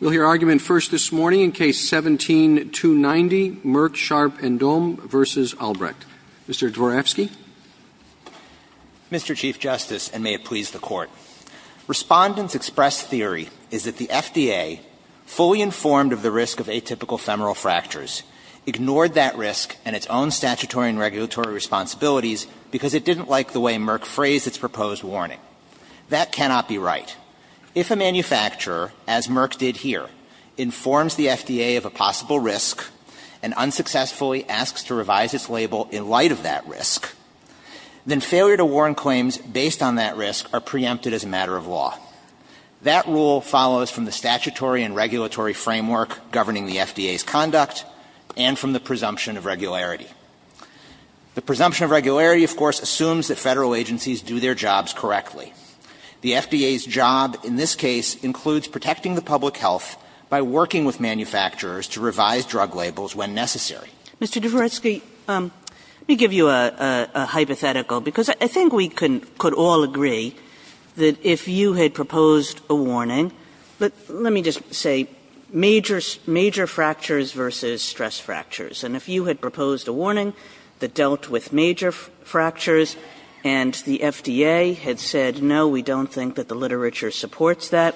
We'll hear argument first this morning in Case 17-290, Merck Sharp & Dohme v. Albrecht. Mr. Dvorafsky. Mr. Chief Justice, and may it please the Court, Respondent's express theory is that the FDA, fully informed of the risk of atypical femoral fractures, ignored that risk and its own statutory and regulatory responsibilities because it didn't like the way Merck phrased its proposed warning. That cannot be right. If a manufacturer, as Merck did here, informs the FDA of a possible risk and unsuccessfully asks to revise its label in light of that risk, then failure to warn claims based on that risk are preempted as a matter of law. That rule follows from the statutory and regulatory framework governing the FDA's conduct and from the presumption of regularity. The presumption of regularity, of course, assumes that federal agencies do their jobs correctly. The FDA's job in this case includes protecting the public health by working with manufacturers to revise drug labels when necessary. Mr. Dvorafsky, let me give you a hypothetical because I think we could all agree that if you had proposed a warning, let me just say major fractures versus stress fractures, and if you had proposed a warning that dealt with major fractures and the FDA had said no, we don't think that the literature supports that,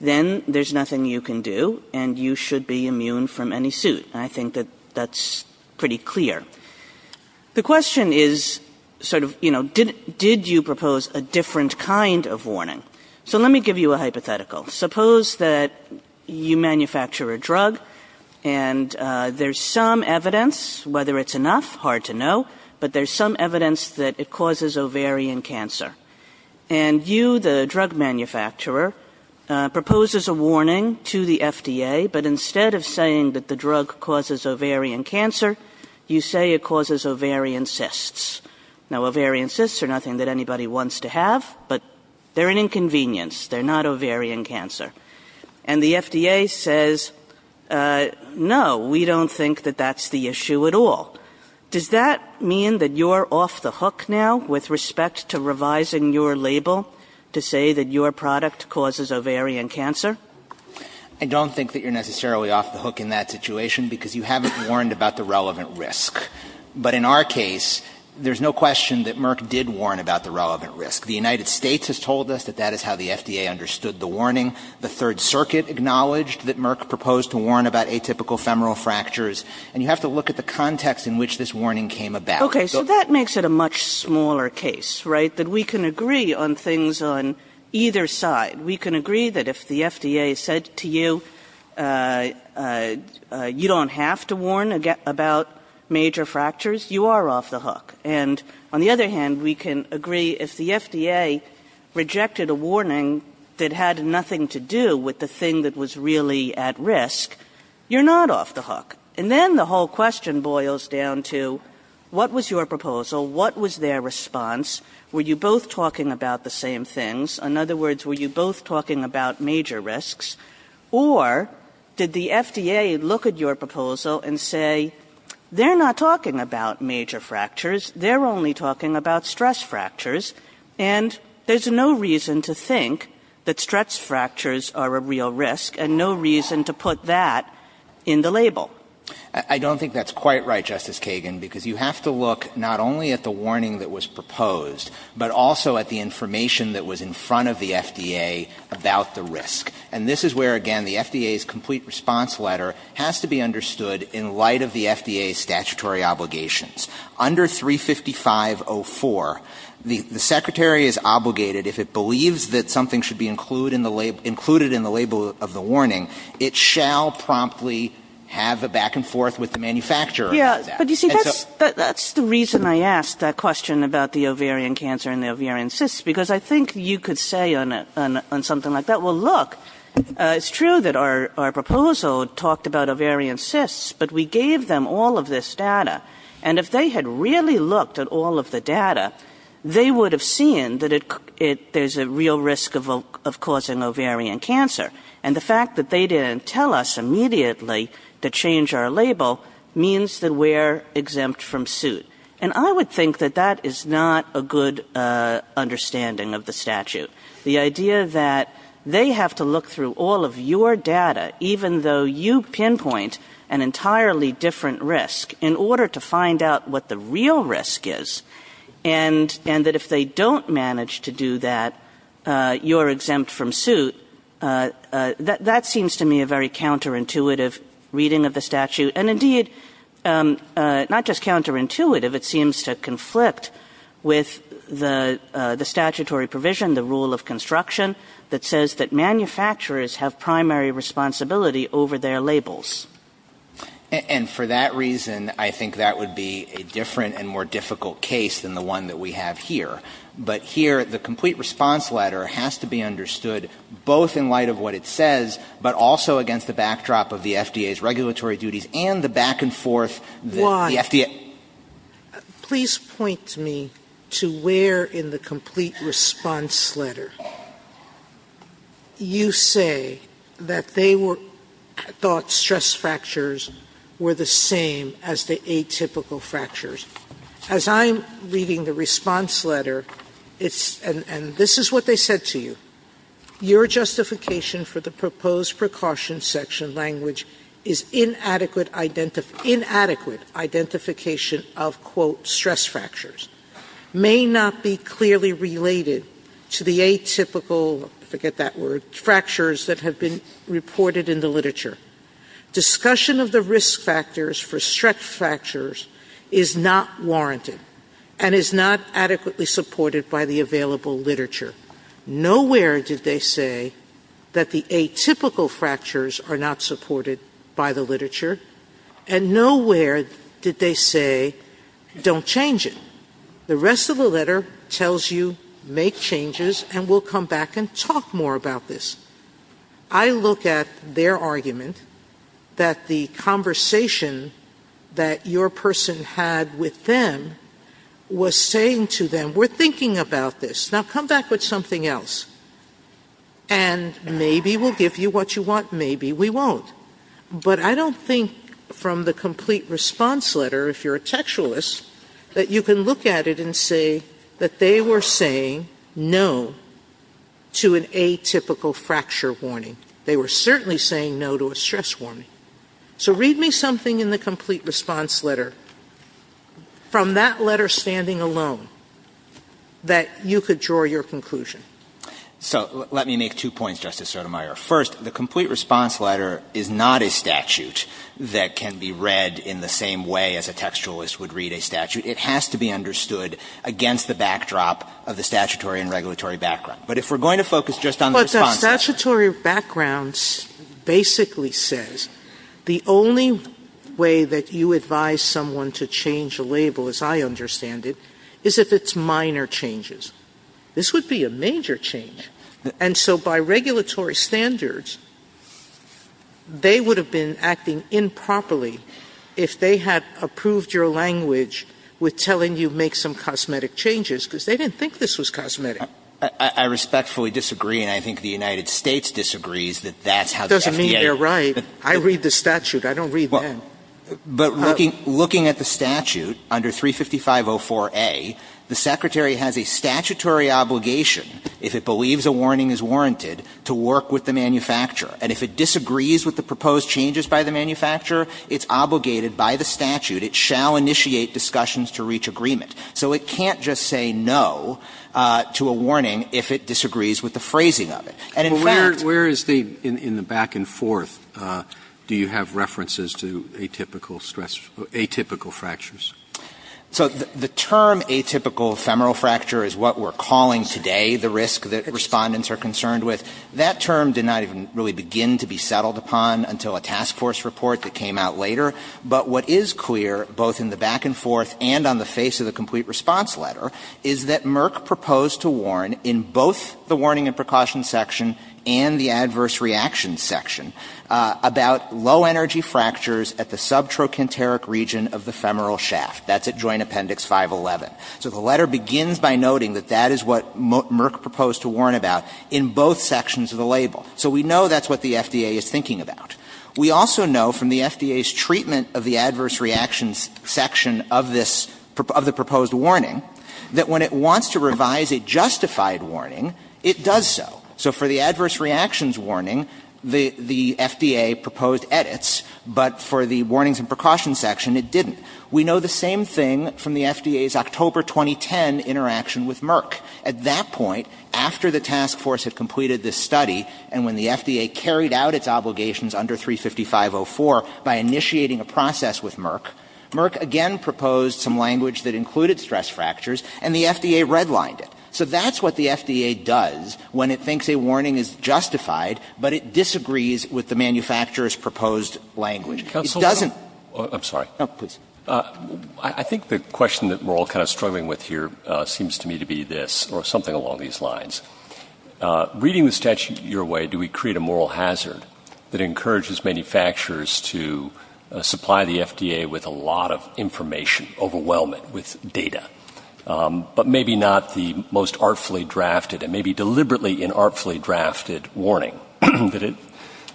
then there's nothing you can do and you should be immune from any suit. I think that that's pretty clear. The question is sort of, you know, did you propose a different kind of warning? So let me give you a hypothetical. Suppose that you manufacture a drug and there's some evidence, whether it's enough, hard to know, but there's some evidence that it causes ovarian cancer. And you, the drug manufacturer, proposes a warning to the FDA, but instead of saying that the drug causes ovarian cancer, you say it causes ovarian cysts. Now, ovarian cysts are nothing that anybody wants to have, but they're an inconvenience. They're not ovarian cancer. And the FDA says, no, we don't think that that's the issue at all. Does that mean that you're off the hook now with respect to revising your label to say that your product causes ovarian cancer? I don't think that you're necessarily off the hook in that situation because you haven't warned about the relevant risk. But in our case, there's no question that Merck did warn about the relevant risk. The United States has told us that that is how the FDA understood the warning. The Third Circuit acknowledged that Merck proposed to warn about atypical femoral fractures, and you have to look at the context in which this warning came about. Okay. So that makes it a much smaller case, right, that we can agree on things on either side. We can agree that if the FDA said to you, you don't have to warn about major fractures, you are off the hook. And on the other hand, we can agree if the FDA rejected a warning that had nothing to do with the thing that was really at risk, you're not off the hook. And then the whole question boils down to, what was your proposal? What was their response? Were you both talking about the same things? In other words, were you both talking about major risks? Or did the FDA look at your proposal and say, they're not talking about major fractures, they're only talking about stress fractures, and there's no reason to think that stress fractures are a real risk, and no reason to put that in the label? I don't think that's quite right, Justice Kagan, because you have to look not only at the warning that was proposed, but also at the information that was in front of the FDA about the risk. And this is where, again, the FDA's complete response letter has to be understood in light of the FDA's statutory obligations. Under 35504, the secretary is obligated, if it believes that something should be included in the label of the warning, it shall promptly have a back and forth with the manufacturer. Yeah, but you see, that's the reason I asked that question about the ovarian cancer and the ovarian cysts, because I think you could say on something like that, well, look, it's true that our proposal talked about ovarian cysts, but we gave them all of this data. And if they had really looked at all of the data, they would have seen that there's a real risk of causing ovarian cancer. And the fact that they didn't tell us immediately to change our label means that we're exempt from suit. And I would think that that is not a good understanding of the statute. The idea that they have to look through all of your data, even though you pinpoint an entirely different risk, in order to find out what the real risk is. And that if they don't manage to do that, you're exempt from suit, that seems to me a very counterintuitive reading of the statute. And indeed, not just counterintuitive, it seems to conflict with the statutory provision, the rule of construction, that says that manufacturers have primary responsibility over their labels. And for that reason, I think that would be a different and more difficult case than the one that we have here. But here, the complete response letter has to be understood, both in light of what it says, but also against the backdrop of the FDA's regulatory duties and the back and forth the FDA. One, please point me to where in the complete response letter you say that they thought stress fractures were the same as the atypical fractures. As I'm reading the response letter, and this is what they said to you, your justification for the proposed precaution section language is inadequate identification of quote stress fractures. May not be clearly related to the atypical, forget that word, fractures that have been reported in the literature. Discussion of the risk factors for stress fractures is not warranted and is not adequately supported by the available literature. Nowhere did they say that the atypical fractures are not supported by the literature. And nowhere did they say, don't change it. The rest of the letter tells you, make changes and we'll come back and talk more about this. I look at their argument that the conversation that your person had with them was saying to them, we're thinking about this. Now come back with something else and maybe we'll give you what you want, maybe we won't. But I don't think from the complete response letter, if you're a textualist, that you can look at it and say that they were saying no to an atypical fracture warning. They were certainly saying no to a stress warning. So read me something in the complete response letter from that letter standing alone that you could draw your conclusion. So let me make two points, Justice Sotomayor. First, the complete response letter is not a statute that can be read in the same way as a textualist would read a statute. It has to be understood against the backdrop of the statutory and regulatory background. But if we're going to focus just on the response letter- But statutory backgrounds basically says the only way that you advise someone to change a label, as I understand it, is if it's minor changes. This would be a major change. And so by regulatory standards, they would have been acting improperly if they had approved your language with telling you make some cosmetic changes, because they didn't think this was cosmetic. I respectfully disagree, and I think the United States disagrees that that's how the FDA- Doesn't mean they're right. I read the statute. I don't read them. But looking at the statute under 355.04a, the Secretary has a statutory obligation, if it believes a warning is warranted, to work with the manufacturer. And if it disagrees with the proposed changes by the manufacturer, it's obligated by the statute, it shall initiate discussions to reach agreement. So it can't just say no to a warning if it disagrees with the phrasing of it. And in fact- But where is the, in the back and forth, do you have references to atypical stress or atypical fractures? So the term atypical ephemeral fracture is what we're calling today the risk that Respondents are concerned with. That term did not even really begin to be settled upon until a task force report that came out later. But what is clear, both in the back and forth and on the face of the complete response letter, is that Merck proposed to warn in both the warning and precaution section and the adverse reaction section about low energy fractures at the subtrochanteric region of the ephemeral shaft. That's at Joint Appendix 511. So the letter begins by noting that that is what Merck proposed to warn about in both sections of the label. So we know that's what the FDA is thinking about. We also know from the FDA's treatment of the adverse reaction section of this, of the proposed warning, that when it wants to revise a justified warning, it does so. So for the adverse reactions warning, the FDA proposed edits, but for the warnings and precautions section, it didn't. We know the same thing from the FDA's October 2010 interaction with Merck. At that point, after the task force had completed this study, and when the FDA carried out its obligations under 355.04 by initiating a process with Merck, Merck again proposed some language that included stress fractures, and the FDA redlined it. So that's what the FDA does when it thinks a warning is justified, but it disagrees with the manufacturer's proposed language. MR. BROWNLEE I think the question that we're all kind of struggling with here seems to me to be this, or something along these lines. Reading the statute your way, do we create a moral hazard that encourages manufacturers to supply the FDA with a lot of information, overwhelm it with data, but maybe not the most artfully drafted, and maybe deliberately inartfully drafted warning that it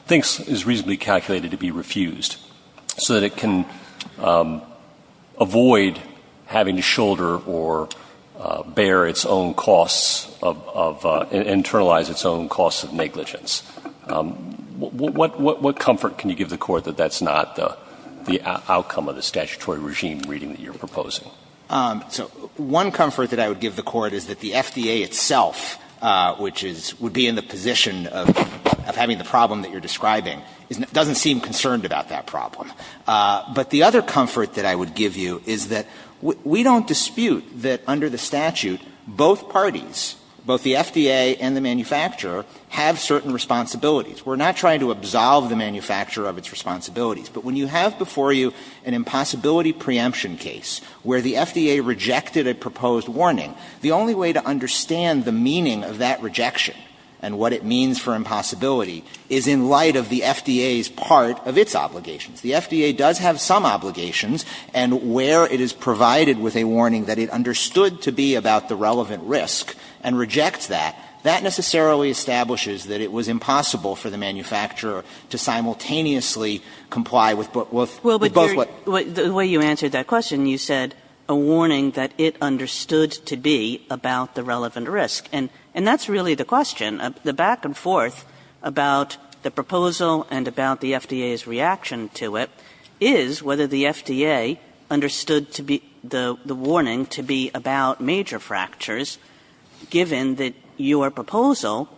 thinks is reasonably calculated to be refused, so that it can avoid having to shoulder or bear its own costs of – internalize its own costs of negligence? What comfort can you give the Court that that's not the outcome of the statutory regime reading that you're proposing? MR. CLEMENT One comfort that I would give the Court is that the FDA itself, which is – would be in the position of having the problem that you're describing, doesn't seem concerned about that problem. But the other comfort that I would give you is that we don't dispute that under the statute, both parties, both the FDA and the manufacturer, have certain responsibilities. We're not trying to absolve the manufacturer of its responsibilities. But when you have before you an impossibility preemption case where the FDA rejected a proposed warning, the only way to understand the meaning of that rejection and what it means for impossibility is in light of the FDA's part of its obligations. The FDA does have some obligations, and where it is provided with a warning that it understood to be about the relevant risk and rejects that, that necessarily establishes that it was impossible for the manufacturer to simultaneously comply with both what – KAGAN The way you answered that question, you said a warning that it understood to be about the relevant risk. And that's really the question. The back and forth about the proposal and about the FDA's reaction to it is whether the FDA understood to be – the warning to be about major fractures, given that your proposal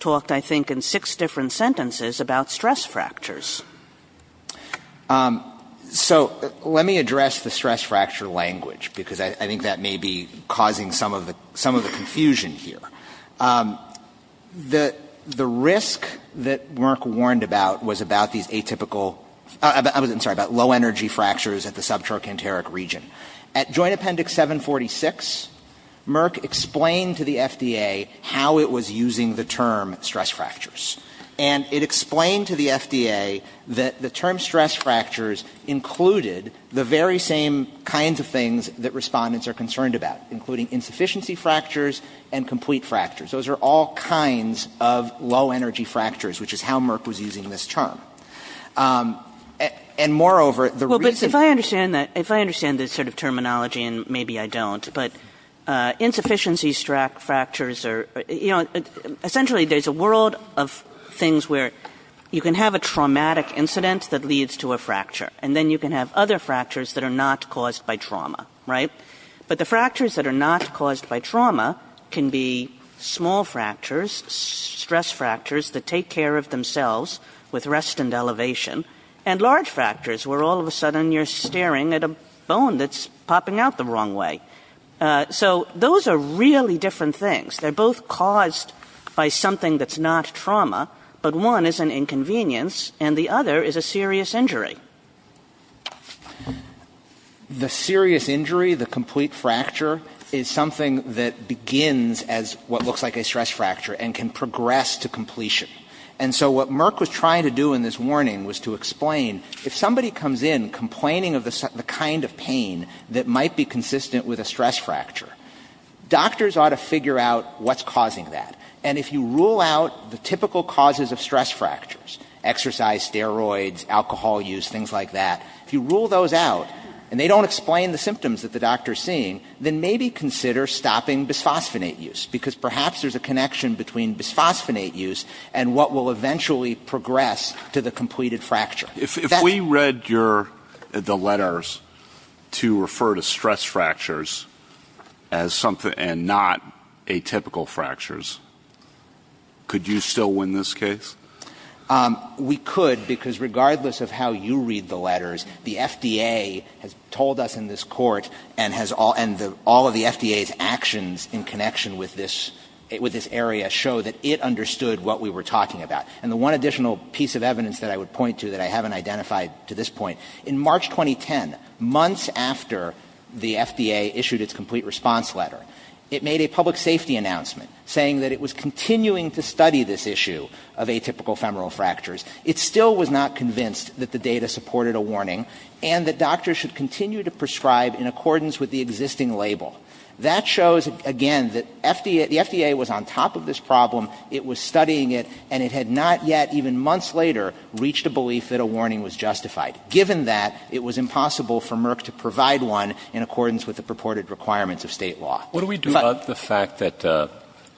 talked, I think, in six different sentences about stress fractures. So let me address the stress fracture language, because I think that may be causing some of the confusion here. The risk that Merck warned about was about these atypical – I'm sorry, about low-energy fractures at the subtrochanteric region. At Joint Appendix 746, Merck explained to the FDA how it was using the term stress fractures. And it explained to the FDA that the term stress fractures included the very same kinds of things that respondents are concerned about, including insufficiency fractures and complete fractures. Those are all kinds of low-energy fractures, which is how Merck was using this And moreover, the reason – MS. GOTTLIEB But if I understand that – if I understand this sort of terminology and maybe I don't, but insufficiency fractures are – you know, essentially there's a world of things where you can have a traumatic incident that leads to a fracture, and then you can have other fractures that are not caused by trauma, right? But the fractures that are not caused by trauma can be small fractures, stress fractures that take care of themselves with rest and elevation, and large fractures where all of a sudden you're staring at a bone that's popping out the wrong way. So those are really different things. They're both caused by something that's not trauma, but one is an inconvenience and the other is a serious injury. MR. CLEMENT The serious injury, the complete fracture, is something that begins as what looks like a stress fracture and can progress to completion. And so what Merck was trying to do in this warning was to explain, if somebody comes in complaining of the kind of pain that might be consistent with a stress fracture, doctors ought to figure out what's causing that. And if you rule out the typical causes of stress fractures – exercise, steroids, alcohol use, things like that – if you rule those out and they don't explain the symptoms that the doctor is seeing, then maybe consider stopping bisphosphonate use, because perhaps there's a connection between bisphosphonate use and what will eventually progress to the completed fracture. MR. BOUTROUS If we read the letters to refer to stress fractures as something – and not atypical fractures, could you still win this case? MR. CLEMENT We could, because regardless of how you read the letters, the FDA has told us in this court and all of the FDA's actions in connection with this area show that it understood what we were talking about. And the one additional piece of evidence that I would point to that I haven't identified to this point, in March 2010, months after the FDA issued its complete response letter, it made a public safety announcement saying that it was continuing to study this issue of atypical femoral fractures. It still was not convinced that the data supported a warning and that doctors should continue to prescribe in accordance with the existing label. That shows, again, that the FDA was on top of this problem, it was studying it, and it had not yet, even months later, reached a belief that a warning was justified. Given that, it was impossible for Merck to provide one in accordance with the purported requirements of state law. MR. BOUTROUS What do we do about the fact that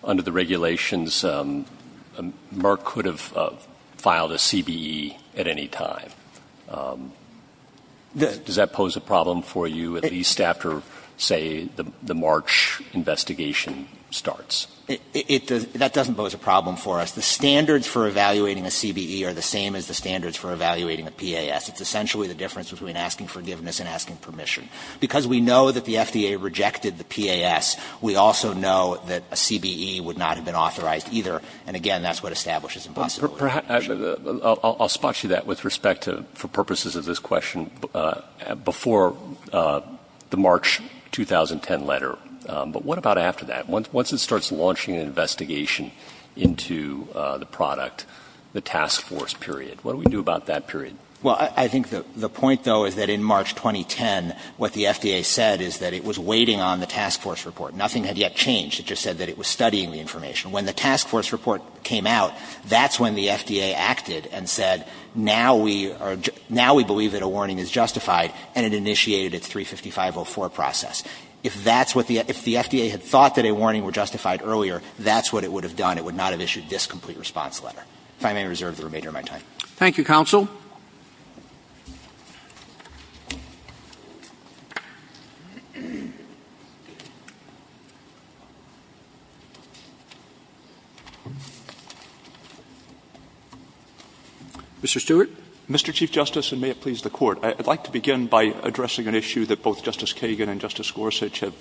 under the regulations, Merck could have filed a CBE at any time? Does that pose a problem for you, at least after, say, the March investigation starts? MR. BOUTROUS The standards for evaluating a CBE are the same as the standards for evaluating a PAS. It's essentially the difference between asking forgiveness and asking permission. Because we know that the FDA rejected the PAS, we also know that a CBE would not have been authorized either, and, again, that's what establishes impossibility. MR. BOUTROUS I'll spot you that with respect to, for purposes of this question, before the March 2010 letter, but what about after that? Once it starts launching an investigation into the product, the task force period, what do we do about that period? MR. CLEMENT I think the point, though, is that in March 2010, what the FDA said is that it was waiting on the task force report. Nothing had yet changed. It just said that it was studying the information. When the task force report came out, that's when the FDA acted and said, now we believe that a warning is justified, and it initiated its 355.04 process. If that's what the – if the FDA had thought that a warning were justified earlier, that's what it would have done. It would not have issued this complete response letter. If I may reserve the remainder of my time. MR. ROBERTS Thank you, counsel. MR. STEWART Mr. Chief Justice, and may it please the Court, I'd like to begin by addressing an issue that both Justice Kagan and Justice Gorsuch have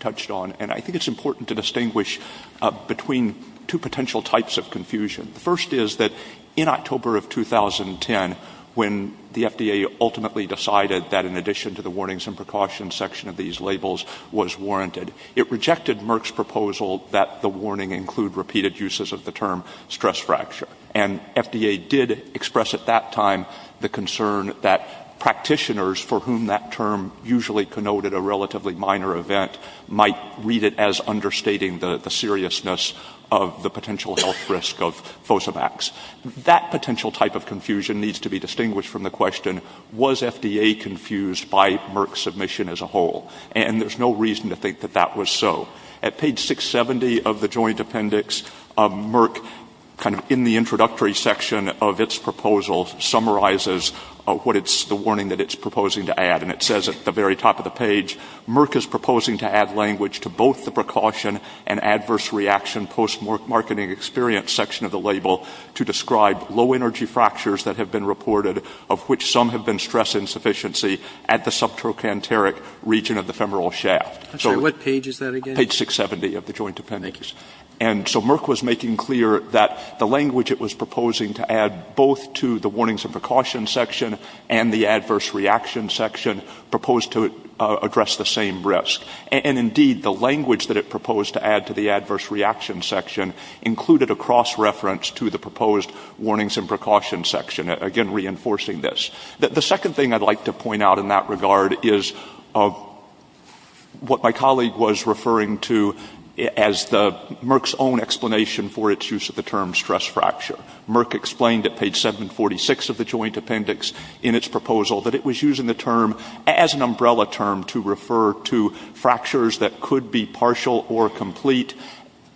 touched on. And I think it's important to distinguish between two potential types of confusion. The first is that in October of 2010, when the FDA ultimately decided that in addition to the warnings and precautions section of these labels was warranted, it rejected Merck's proposal that the warning include repeated uses of the term stress fracture. And FDA did express at that time the concern that practitioners for whom that term usually connoted a relatively minor event might read it as understating the seriousness of the potential health risk of FOSAMAX. That potential type of confusion needs to be distinguished from the question, was FDA confused by Merck's submission as a whole? And there's no reason to think that that was so. At page 670 of the joint appendix, Merck, kind of in the introductory section of its proposal, summarizes what it's the warning that it's proposing to add. And it says at the very top of the page, Merck is proposing to add language to both the precaution and adverse reaction post-marketing experience section of the label to describe low energy fractures that have been reported, of which some have been stress insufficiency at the subtrochanteric region of the femoral shaft. MR. GILLESPIEGEL. Thank you. At page 670 of the joint appendix. And so Merck was making clear that the language it was proposing to add both to the warnings and precautions section and the adverse reaction section proposed to address the same risk. And indeed, the language that it proposed to add to the adverse reaction section included a cross-reference to the proposed warnings and precautions section, again, reinforcing this. The second thing I'd like to point out in that regard is what my colleague was referring to as Merck's own explanation for its use of the term stress fracture. Merck explained at page 746 of the joint appendix in its proposal that it was using the term as an umbrella term to refer to fractures that could be partial or complete.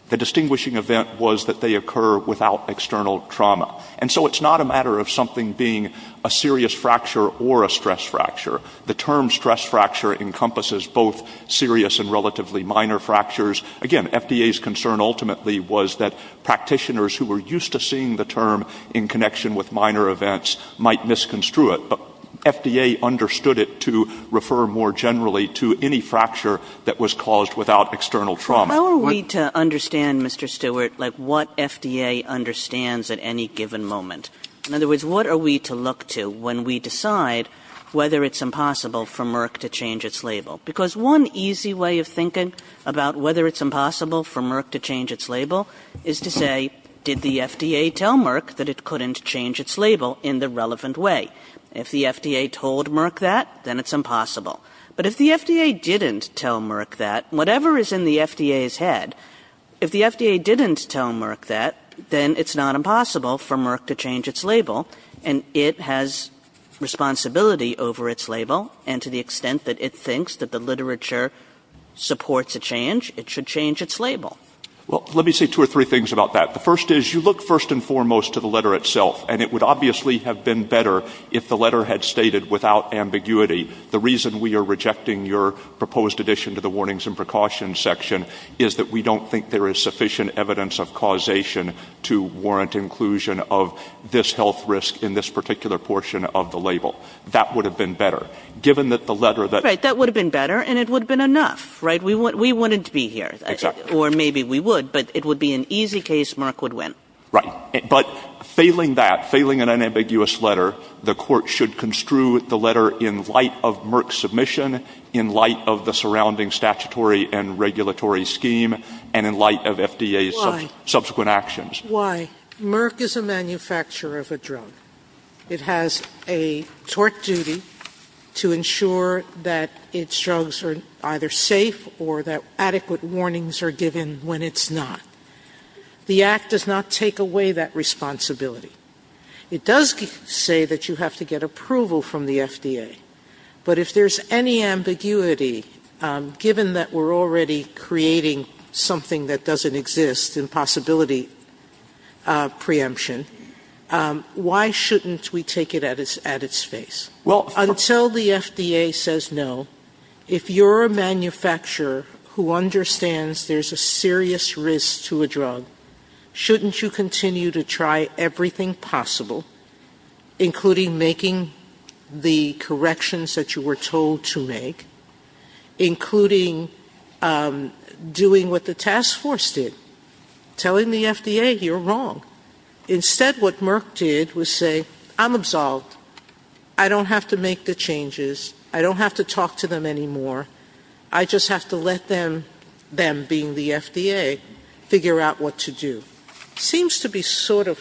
The distinguishing event was that they occur without external trauma. And so it's not a matter of something being a serious fracture or a stress fracture. The term stress fracture encompasses both serious and relatively minor fractures. Again, FDA's concern ultimately was that practitioners who were used to seeing the term in connection with minor events might misconstrue it. But FDA understood it to refer more generally to any fracture that was caused without external trauma. MS. GINSBURG. How are we to understand, Mr. Stewart, like what FDA understands at any given moment? In other words, what are we to look to when we decide whether it's impossible for Merck to change its label? Because one easy way of thinking about whether it's impossible for Merck to change its label is to say, did the FDA tell Merck that it couldn't change its label in the relevant way? If the FDA told Merck that, then it's impossible. But if the FDA didn't tell Merck that, whatever is in the FDA's head, if the FDA didn't tell Merck that, then it's not impossible for Merck to change its label. And it has responsibility over its label. And to the extent that it thinks that the literature supports a change, it should change its label. MR. STEWART. Well, let me say two or three things about that. The first is, you look first and foremost to the letter itself. And it would obviously have been better if the letter had stated, without ambiguity, the reason we are rejecting your proposed addition to the warnings and precautions section is that we don't think there is sufficient evidence of causation to warrant inclusion of this health risk in this particular portion of the label. That would have been better. Given that the letter that MS. STEWART. Right. That would have been better, and it would have been enough. We wanted to be here. MR. STEWART. Exactly. STEWART. Or maybe we would, but it would be an easy case. Merck would win. MR. STEWART. Right. But failing that, failing an unambiguous letter, the Court should construe the letter in light of Merck's submission, in light of the surrounding statutory and regulatory scheme, and in light of FDA's subsequent actions. MS. STEWART. Why? Why? Merck is a manufacturer of a drug. It has a tort duty to ensure that its drugs are either safe or that adequate warnings are given when it's not. The Act does not take away that responsibility. It does say that you have to get approval from the FDA. But if there's any ambiguity, given that we're already creating something that doesn't exist in possibility preemption, why shouldn't we take it at its face? MR. Well, of course. MS. STEWART. Until the FDA says no, if you're a manufacturer who understands there's a serious risk to a drug, shouldn't you continue to try everything possible, including making the corrections that you were told to make, including doing what the task force did, telling the FDA you're wrong? Instead, what Merck did was say, I'm absolved. I don't have to make the changes. I don't have to talk to them anymore. I just have to let them, them being the FDA, figure out what to do. Seems to be sort of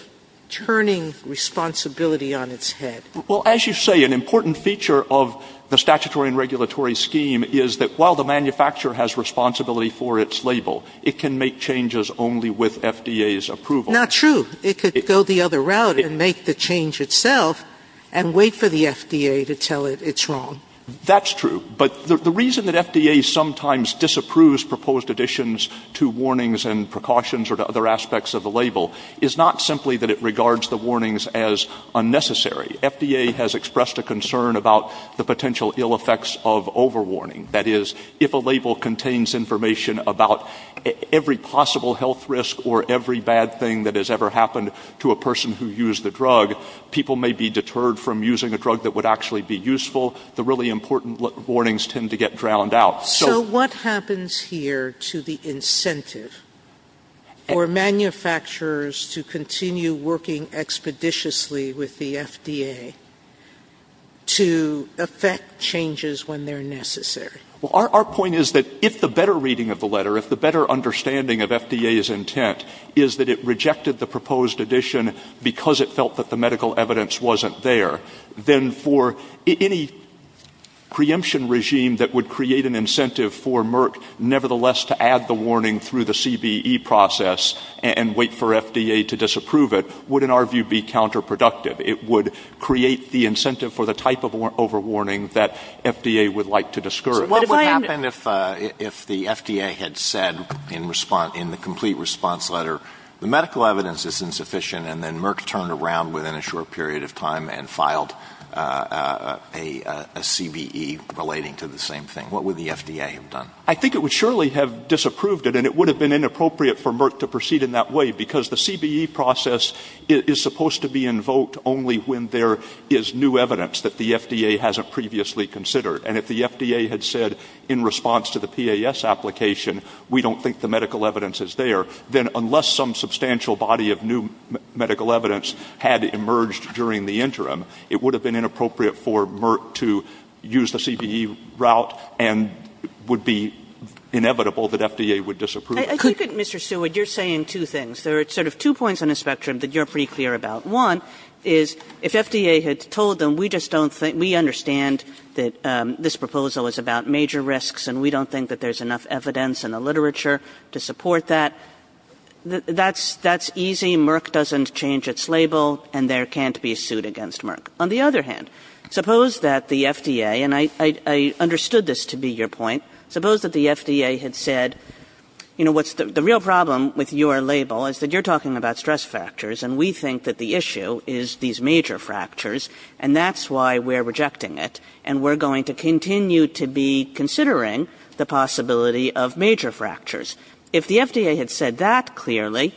turning responsibility on its head. MR. GOTTLIEB. Well, as you say, an important feature of the statutory and regulatory scheme is that while the manufacturer has responsibility for its label, it can make changes only with FDA's approval. MS. STEWART. Not true. It could go the other route and make the change itself and wait for the FDA to tell it it's wrong. MR. GOTTLIEB. The reason that FDA sometimes disapproves proposed additions to warnings and precautions or to other aspects of the label is not simply that it regards the warnings as unnecessary. FDA has expressed a concern about the potential ill effects of overwarning. That is, if a label contains information about every possible health risk or every bad thing that has ever happened to a person who used the drug, people may be deterred from using a drug that would actually be useful. The really important warnings tend to get drowned out. STEWART. So what happens here to the incentive for manufacturers to continue working expeditiously with the FDA to effect changes when they're necessary? MR. GOTTLIEB. Well, our point is that if the better reading of the letter, if the better understanding evidence wasn't there, then for any preemption regime that would create an incentive for Merck, nevertheless, to add the warning through the CBE process and wait for FDA to disapprove it, would, in our view, be counterproductive. It would create the incentive for the type of overwarning that FDA would like to discourage. MR. GOTTLIEB. So what would happen if the FDA had said in the complete response letter, the medical evidence is insufficient, and then Merck turned around within a short period of time and filed a CBE relating to the same thing? What would the FDA have done? MR. GOTTLIEB. I think it would surely have disapproved it, and it would have been inappropriate for Merck to proceed in that way, because the CBE process is supposed to be invoked only when there is new evidence that the FDA hasn't previously considered. And if the FDA had said in response to the PAS application, we don't think the medical evidence is there, then unless some substantial body of new medical evidence had emerged during the interim, it would have been inappropriate for Merck to use the CBE route and it would be inevitable that FDA would disapprove it. MS. KAYE. I think, Mr. Stewart, you're saying two things. There are sort of two points on the spectrum that you're pretty clear about. One is, if FDA had told them, we just don't think we understand that this proposal is about major risks and we don't think that there's enough evidence in the literature to support that, that's easy. Merck doesn't change its label, and there can't be a suit against Merck. On the other hand, suppose that the FDA, and I understood this to be your point, suppose that the FDA had said, you know, the real problem with your label is that you're talking about stress fractures, and we think that the issue is these major fractures, and that's why we're rejecting it, and we're going to continue to be considering the possibility of major fractures. If the FDA had said that clearly,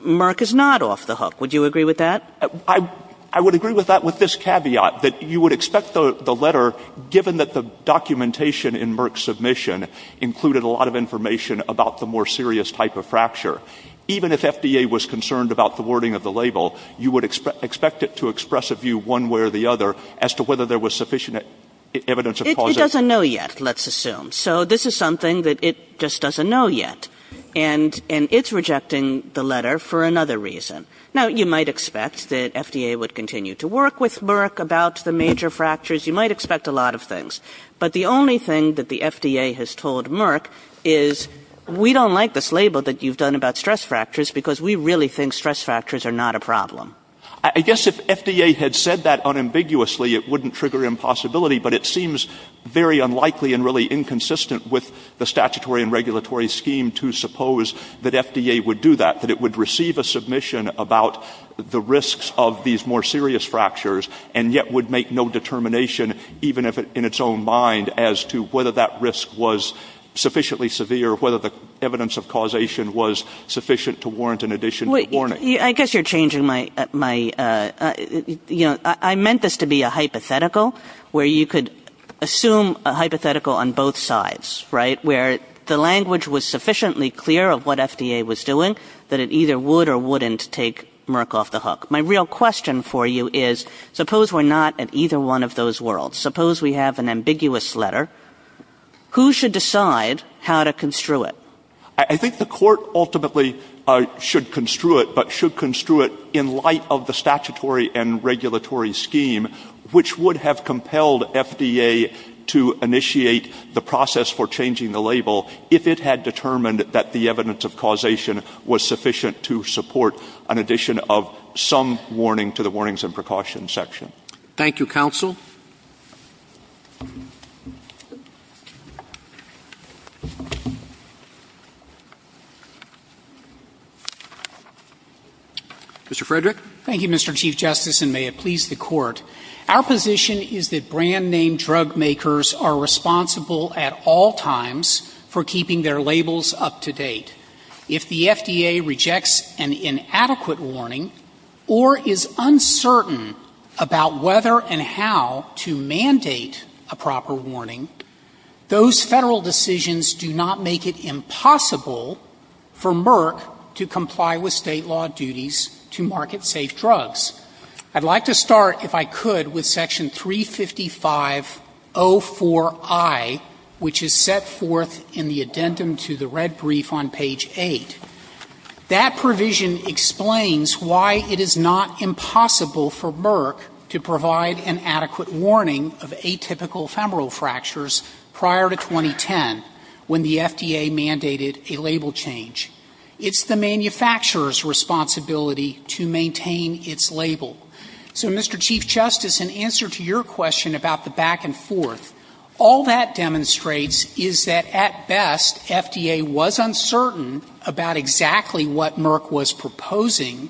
Merck is not off the hook. Would you agree with that? MR. STEWART. I would agree with that with this caveat, that you would expect the letter, given that the documentation in Merck's submission included a lot of information about the more serious type of fracture, even if FDA was concerned about the wording of the label, you would expect it to express a view one way or the other as to whether there was sufficient evidence of positive. MS. KAYE. Well, it doesn't know yet, let's assume. So this is something that it just doesn't know yet, and it's rejecting the letter for another reason. Now, you might expect that FDA would continue to work with Merck about the major fractures. You might expect a lot of things. But the only thing that the FDA has told Merck is, we don't like this label that you've done about stress fractures because we really think stress fractures are not a problem. MR. STEWART. But it seems very unlikely and really inconsistent with the statutory and regulatory scheme to suppose that FDA would do that, that it would receive a submission about the risks of these more serious fractures and yet would make no determination, even in its own mind, as to whether that risk was sufficiently severe, whether the evidence of causation was sufficient to warrant an addition to the warning. MS. KAYE. I would assume a hypothetical on both sides, right, where the language was sufficiently clear of what FDA was doing, that it either would or wouldn't take Merck off the hook. My real question for you is, suppose we're not at either one of those worlds. Suppose we have an ambiguous letter. Who should decide how to construe it? MR. STEWART. I think the court ultimately should construe it, but should construe it in light of the to initiate the process for changing the label if it had determined that the evidence of causation was sufficient to support an addition of some warning to the warnings and precautions section. MR. STEWART. Thank you, counsel. Mr. Frederick. MR. FREDERICK. Thank you, Mr. Chief Justice, and may it please the Court. Our position is that brand-name drug makers are responsible at all times for keeping their labels up to date. If the FDA rejects an inadequate warning or is uncertain about whether and how to mandate a proper warning, those Federal decisions do not make it impossible for Merck to comply with State law duties to market safe drugs. I'd like to start, if I could, with section 355.04i, which is set forth in the addendum to the red brief on page 8. That provision explains why it is not impossible for Merck to provide an adequate warning of atypical femoral fractures prior to 2010 when the FDA mandated a label change. It's the manufacturer's responsibility to maintain its label. So Mr. Chief Justice, in answer to your question about the back and forth, all that demonstrates is that, at best, FDA was uncertain about exactly what Merck was proposing,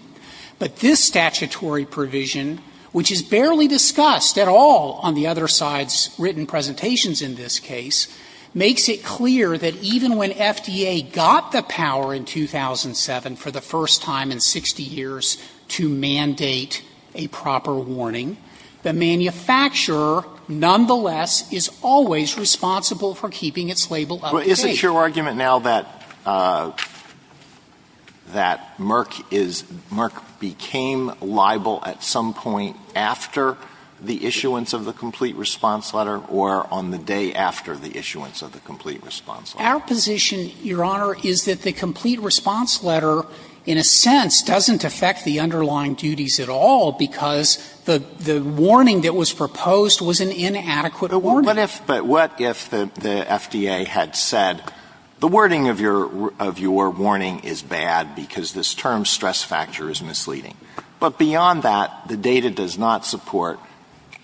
but this statutory provision, which is barely discussed at all on the other side's written presentations in this case, makes it clear that even when FDA got the power in 2007 for the first time in 60 years to mandate a proper warning, the manufacturer nonetheless is always responsible for keeping its label up to date. Alito, is it your argument now that Merck became liable at some point after the issuance of the complete response letter or on the day after the issuance of the complete response letter? Our position, Your Honor, is that the complete response letter, in a sense, doesn't affect the underlying duties at all because the warning that was proposed was an inadequate warning. But what if the FDA had said, the wording of your warning is bad because this term of stress factor is misleading, but beyond that, the data does not support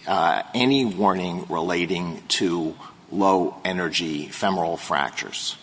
any warning relating to low-energy femoral fractures?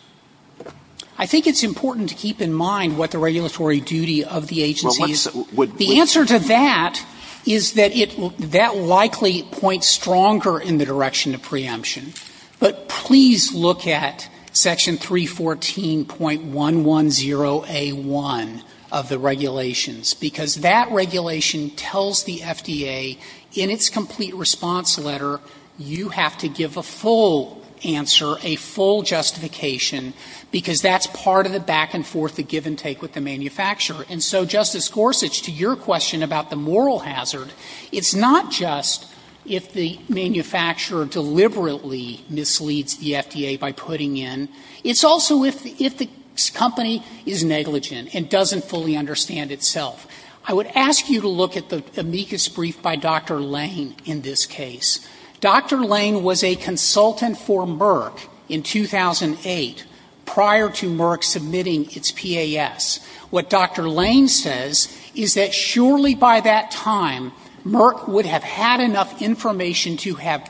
I think it's important to keep in mind what the regulatory duty of the agency is. The answer to that is that it that likely points stronger in the direction of preemption. But please look at section 314.110A1 of the regulations, because that regulation tells the FDA in its complete response letter, you have to give a full answer, a full justification, because that's part of the back-and-forth, the give-and-take with the manufacturer. And so, Justice Gorsuch, to your question about the moral hazard, it's not just if the FDA misleads the FDA by putting in, it's also if the company is negligent and doesn't fully understand itself. I would ask you to look at the amicus brief by Dr. Lane in this case. Dr. Lane was a consultant for Merck in 2008, prior to Merck submitting its PAS. What Dr. Lane says is that surely by that time, Merck would have had enough information to have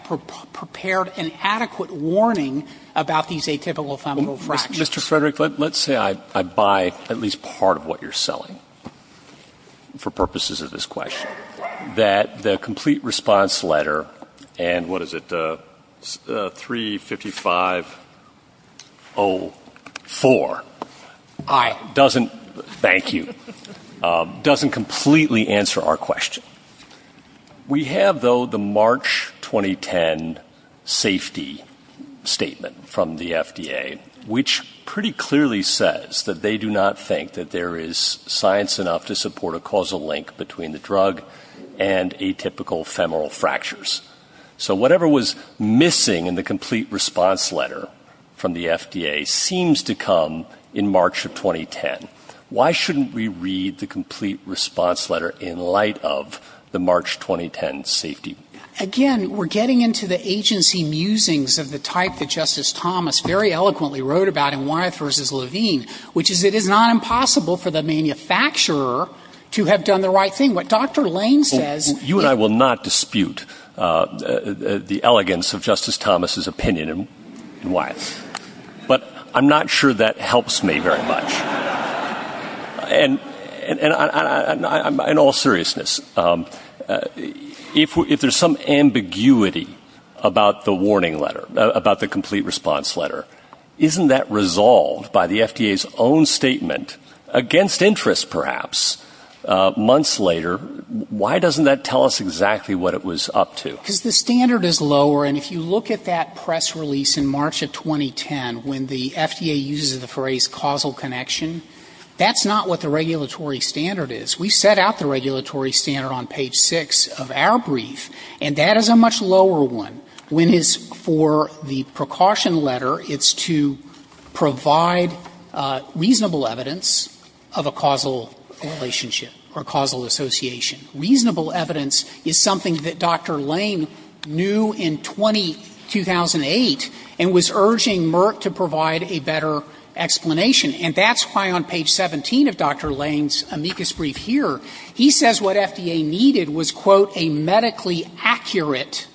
prepared an adequate warning about these atypical fungal fractures. Mr. Frederick, let's say I buy at least part of what you're selling for purposes of this question, that the complete response letter and what is it, 35504, doesn't thank you, doesn't completely answer our question. We have, though, the March 2010 safety statement from the FDA, which pretty clearly says that they do not think that there is science enough to support a causal link between the drug and atypical femoral fractures. So whatever was missing in the complete response letter from the FDA seems to come in March of 2010. Why shouldn't we read the complete response letter in light of the March 2010 safety statement? Again, we're getting into the agency musings of the type that Justice Thomas very eloquently wrote about in Wyeth v. Levine, which is it is not impossible for the manufacturer to have done the right thing. What Dr. Lane says is — You and I will not dispute the elegance of Justice Thomas' opinion in Wyeth. But I'm not sure that helps me very much. And in all seriousness, if there's some ambiguity about the warning letter, about the complete response letter, isn't that resolved by the FDA's own statement, against interest perhaps, months later? Why doesn't that tell us exactly what it was up to? Because the standard is lower. And if you look at that press release in March of 2010, when the FDA uses the phrase causal connection, that's not what the regulatory standard is. We set out the regulatory standard on page 6 of our brief. And that is a much lower one. When it's for the precaution letter, it's to provide reasonable evidence of a causal relationship or causal association. Reasonable evidence is something that Dr. Lane knew in 2008 and was urging Merck to provide a better explanation. And that's why on page 17 of Dr. Lane's amicus brief here, he says what FDA needed was, quote, a medically accurate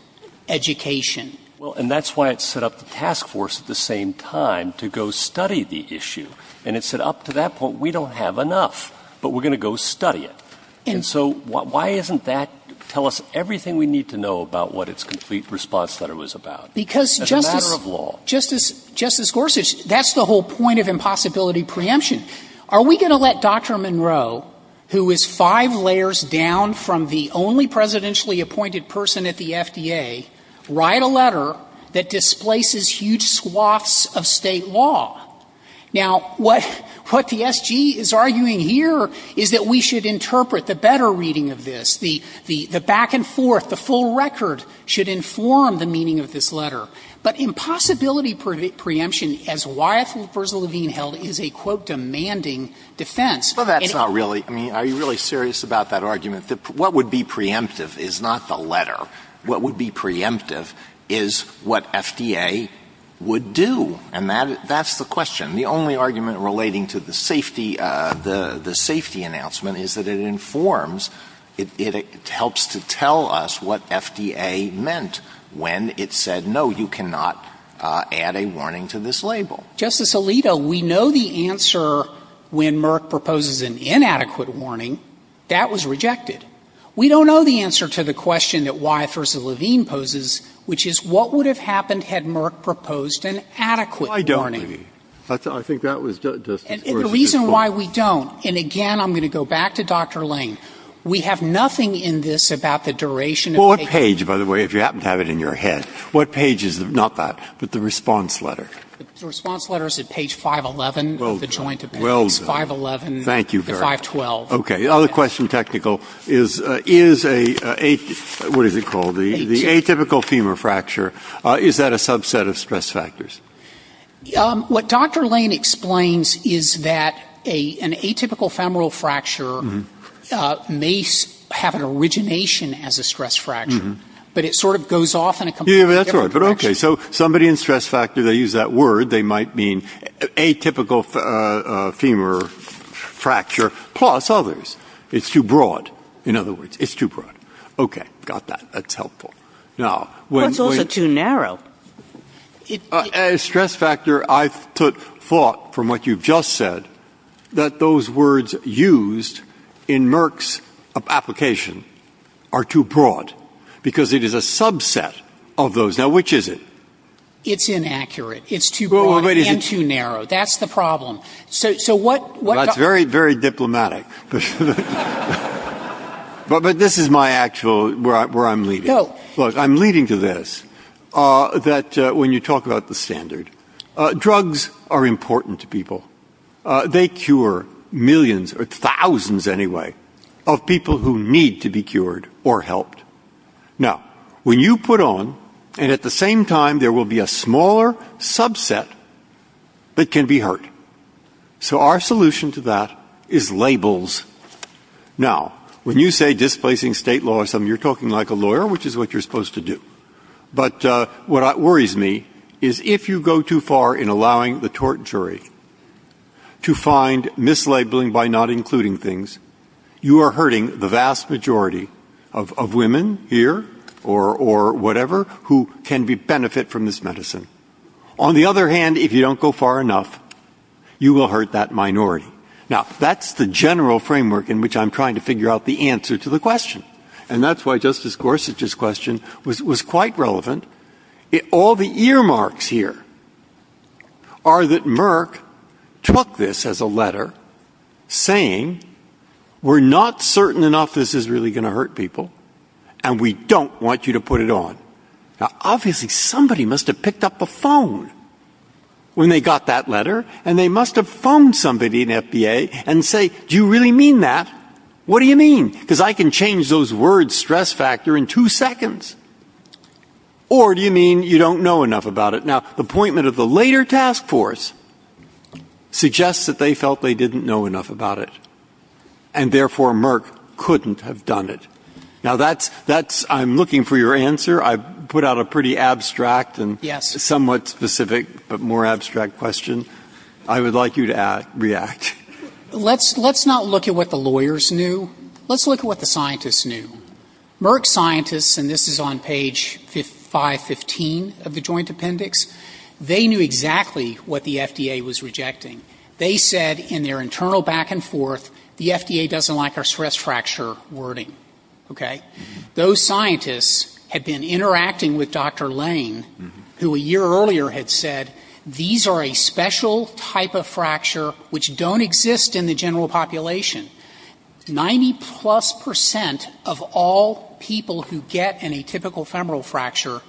education. Well, and that's why it set up the task force at the same time to go study the issue. And it said up to that point, we don't have enough, but we're going to go study it. And so why isn't that tell us everything we need to know about what its complete response letter was about? As a matter of law. Justice Gorsuch, that's the whole point of impossibility preemption. Are we going to let Dr. Monroe, who is five layers down from the only presidentially appointed person at the FDA, write a letter that displaces huge swaths of State law? Now, what the S.G. is arguing here is that we should interpret the better reading of this, the back and forth, the full record should inform the meaning of this letter. But impossibility preemption, as Wyeth Versa-Levine held, is a, quote, demanding defense. And it's not really. I mean, are you really serious about that argument, that what would be preemptive is not the letter. What would be preemptive is what FDA would do. And that's the question. The only argument relating to the safety announcement is that it informs, it helps to tell us what FDA meant when it said, no, you cannot add a warning to this label. Justice Alito, we know the answer when Merck proposes an inadequate warning, that was rejected. We don't know the answer to the question that Wyeth Versa-Levine poses, which is what would have happened had Merck proposed an adequate warning? Well, I don't believe it. I think that was Justice Gorsuch's point. And the reason why we don't, and again, I'm going to go back to Dr. Lane, we have nothing in this about the duration of a case. Well, what page, by the way, if you happen to have it in your head, what page is it, not that, but the response letter? The response letter is at page 511 of the joint appendix. Well done. 511 to 512. Thank you very much. Okay. The other question, technical, is, is a, what is it called, the atypical femur fracture, is that a subset of stress factors? What Dr. Lane explains is that an atypical femoral fracture may have an origination as a stress fracture, but it sort of goes off in a completely different direction. Yeah, that's right. But okay, so somebody in stress factor, they use that word, they might mean atypical femur fracture, plus others. It's too broad, in other words. It's too broad. Okay. Got that. That's helpful. Now. But it's also too narrow. A stress factor, I thought, from what you've just said, that those words used in Merck's application are too broad, because it is a subset of those. Now, which is it? It's inaccurate. It's too broad and too narrow. That's the problem. That's very, very diplomatic. But this is my actual, where I'm leading. Look, I'm leading to this, that when you talk about the standard, drugs are important to people. They cure millions, or thousands anyway, of people who need to be cured or helped. Now, when you put on, and at the same time there will be a smaller subset that can be cured. So our solution to that is labels. Now, when you say displacing state law or something, you're talking like a lawyer, which is what you're supposed to do. But what worries me is if you go too far in allowing the tort jury to find mislabeling by not including things, you are hurting the vast majority of women here, or whatever, who can benefit from this medicine. On the other hand, if you don't go far enough, you will hurt that minority. Now, that's the general framework in which I'm trying to figure out the answer to the question. And that's why Justice Gorsuch's question was quite relevant. All the earmarks here are that Merck took this as a letter saying, we're not certain enough this is really going to hurt people, and we don't want you to put it on. Now, obviously, somebody must have picked up a phone when they got that letter, and they must have phoned somebody in FBA and say, do you really mean that? What do you mean? Because I can change those words' stress factor in two seconds. Or do you mean you don't know enough about it? Now, the appointment of the later task force suggests that they felt they didn't know enough about it. And therefore, Merck couldn't have done it. Now, I'm looking for your answer. I put out a pretty abstract and somewhat specific but more abstract question. I would like you to react. Let's not look at what the lawyers knew. Let's look at what the scientists knew. Merck scientists, and this is on page 515 of the joint appendix, they knew exactly what the FDA was rejecting. They said in their internal back and forth, the FDA doesn't like our stress fracture wording. Okay? Those scientists had been interacting with Dr. Lane, who a year earlier had said, these are a special type of fracture which don't exist in the general population. Ninety-plus percent of all people who get an atypical femoral fracture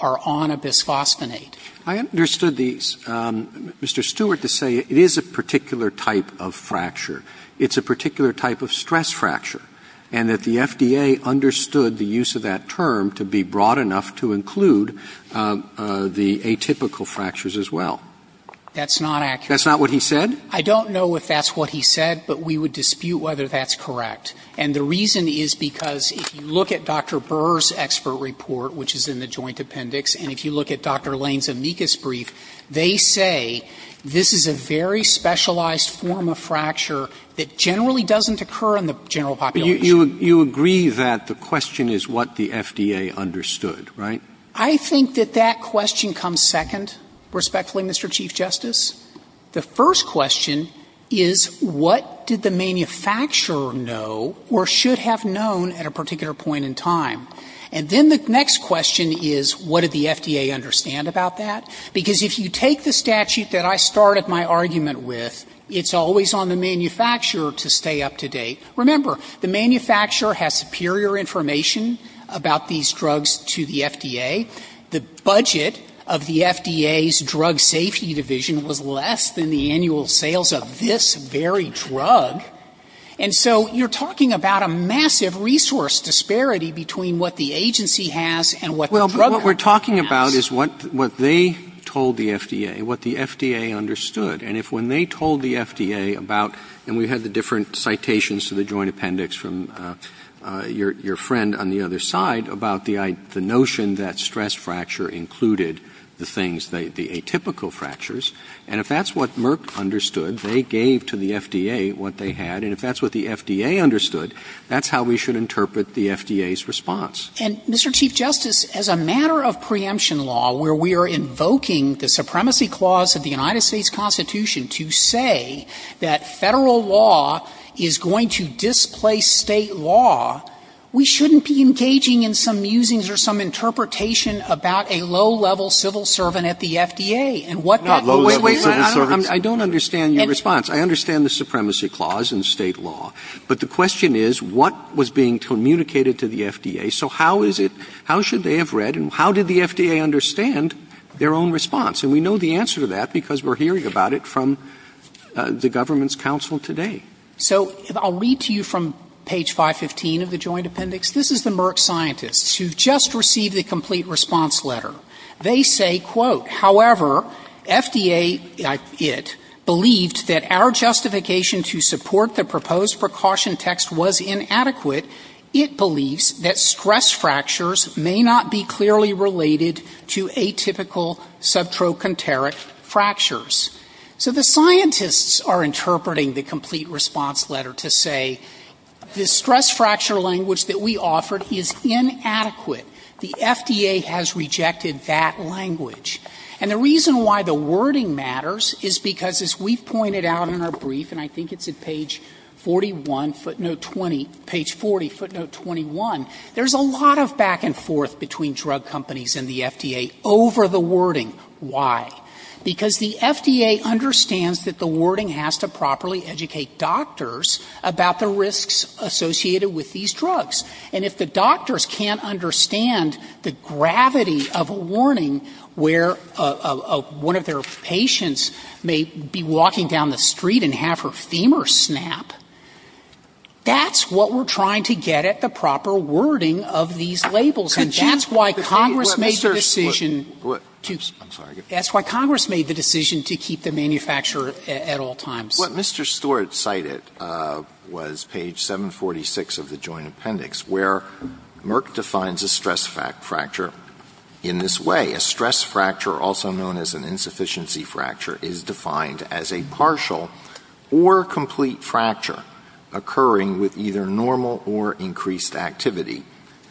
are on a bisphosphonate. I understood these. Mr. Stewart, to say it is a particular type of fracture, it's a particular type of fracture, but the FDA understood the use of that term to be broad enough to include the atypical fractures as well. That's not accurate. That's not what he said? I don't know if that's what he said, but we would dispute whether that's correct. And the reason is because if you look at Dr. Burr's expert report, which is in the joint appendix, and if you look at Dr. Lane's amicus brief, they say this is a very specialized form of fracture that generally doesn't occur in the general population. You agree that the question is what the FDA understood, right? I think that that question comes second, respectfully, Mr. Chief Justice. The first question is what did the manufacturer know or should have known at a particular point in time? And then the next question is what did the FDA understand about that? Because if you take the statute that I started my argument with, it's always on the manufacturer to stay up to date. Remember, the manufacturer has superior information about these drugs to the FDA. The budget of the FDA's drug safety division was less than the annual sales of this very drug. And so you're talking about a massive resource disparity between what the agency has and what the drug company has. Well, what we're talking about is what they told the FDA, what the FDA understood. And if when they told the FDA about, and we had the different citations to the joint appendix from your friend on the other side about the notion that stress fracture included the things, the atypical fractures, and if that's what Merck understood, they gave to the FDA what they had. And if that's what the FDA understood, that's how we should interpret the FDA's response. And, Mr. Chief Justice, as a matter of preemption law where we are invoking the Constitution to say that Federal law is going to displace State law, we shouldn't be engaging in some musings or some interpretation about a low-level civil servant at the FDA and what that means. Not low-level civil servant. I don't understand your response. I understand the supremacy clause in State law. But the question is, what was being communicated to the FDA? So how is it, how should they have read and how did the FDA understand their own response? And we know the answer to that because we're hearing about it from the government's counsel today. So I'll read to you from page 515 of the joint appendix. This is the Merck scientists who have just received the complete response letter. They say, quote, however, FDA, it, believed that our justification to support the proposed precaution text was inadequate. It believes that stress fractures may not be clearly related to atypical subtrochanteric fractures. So the scientists are interpreting the complete response letter to say, the stress fracture language that we offered is inadequate. The FDA has rejected that language. And the reason why the wording matters is because, as we've pointed out in our brief, and I think it's at page 41, footnote 20, page 40, footnote 21, there's a lot of back and forth between drug companies and the FDA over the wording. Why? Because the FDA understands that the wording has to properly educate doctors about the risks associated with these drugs. And if the doctors can't understand the gravity of a warning where one of their patients may be walking down the street and have her femur snap, that's what we're trying to get at, the proper wording of these labels. And that's why Congress made the decision to keep the manufacturer at all times. Alito, what Mr. Stewart cited was page 746 of the Joint Appendix, where Merck defines a stress fracture in this way. A stress fracture, also known as an insufficiency fracture, is defined as a partial or complete fracture occurring with either normal or increased activity,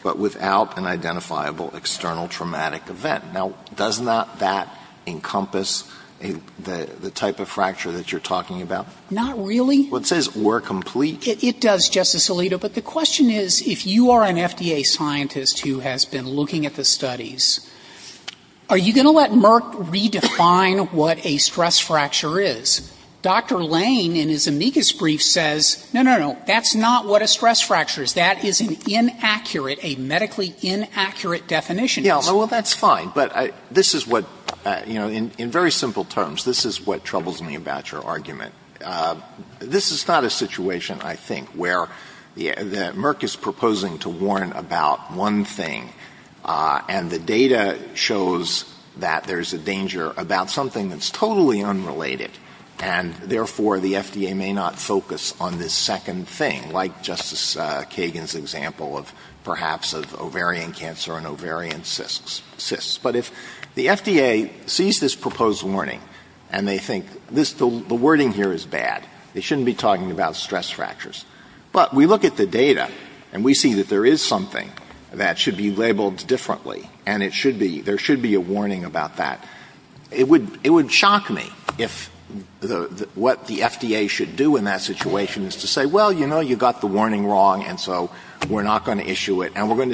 but without an identifiable external traumatic event. Now, does not that encompass the type of fracture that you're talking about? Not really. Well, it says or complete. It does, Justice Alito. But the question is, if you are an FDA scientist who has been looking at the studies, are you going to let Merck redefine what a stress fracture is? Dr. Lane, in his amicus brief, says, no, no, no. That's not what a stress fracture is. That is an inaccurate, a medically inaccurate definition. Yeah, well, that's fine. But this is what, you know, in very simple terms, this is what troubles me about your argument. This is not a situation, I think, where Merck is proposing to warn about one thing, and the data shows that there's a danger about something that's totally unrelated. And therefore, the FDA may not focus on this second thing, like Justice Kagan's example of perhaps of ovarian cancer and ovarian cysts. But if the FDA sees this proposed warning, and they think the wording here is bad, they shouldn't be talking about stress fractures. But we look at the data, and we see that there is something that should be labeled differently, and there should be a warning about that. It would shock me if what the FDA should do in that situation is to say, well, you know, you got the warning wrong, and so we're not going to issue it, and we're going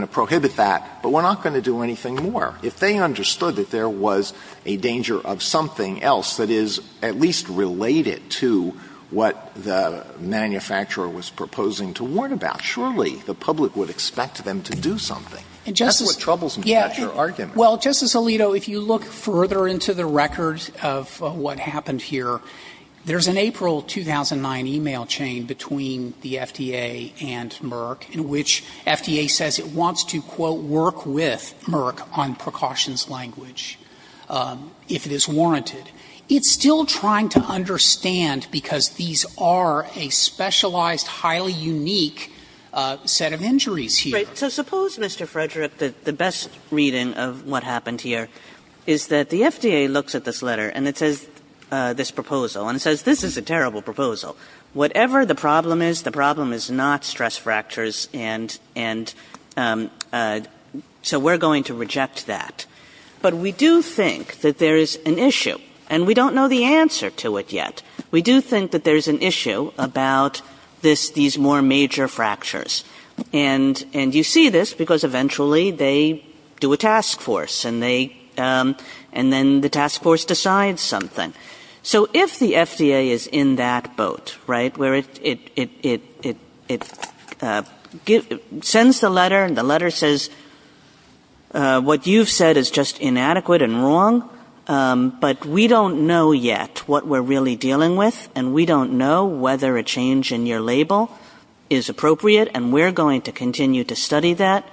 to prohibit that, but we're not going to do anything more. If they understood that there was a danger of something else that is at least related to what the manufacturer was proposing to warn about, surely the public would expect them to do something. That's what troubles me about your argument. Well, Justice Alito, if you look further into the record of what happened here, there's an April 2009 e-mail chain between the FDA and Merck, in which FDA says it wants to, quote, work with Merck on precautions language, if it is warranted. It's still trying to understand, because these are a specialized, highly unique set of injuries here. So suppose, Mr. Frederick, the best reading of what happened here is that the FDA looks at this letter, and it says this proposal, and it says this is a terrible proposal. Whatever the problem is, the problem is not stress fractures, and so we're going to reject that. But we do think that there is an issue, and we don't know the answer to it yet. We do think that there's an issue about these more major fractures, and you see this because eventually they do a task force, and then the task force decides something. So if the FDA is in that boat, right, where it sends the letter, and the letter says what you've said is just inadequate and wrong, but we don't know yet what we're really dealing with, and we don't know whether a change in your hypothesis is going to be enough to study that,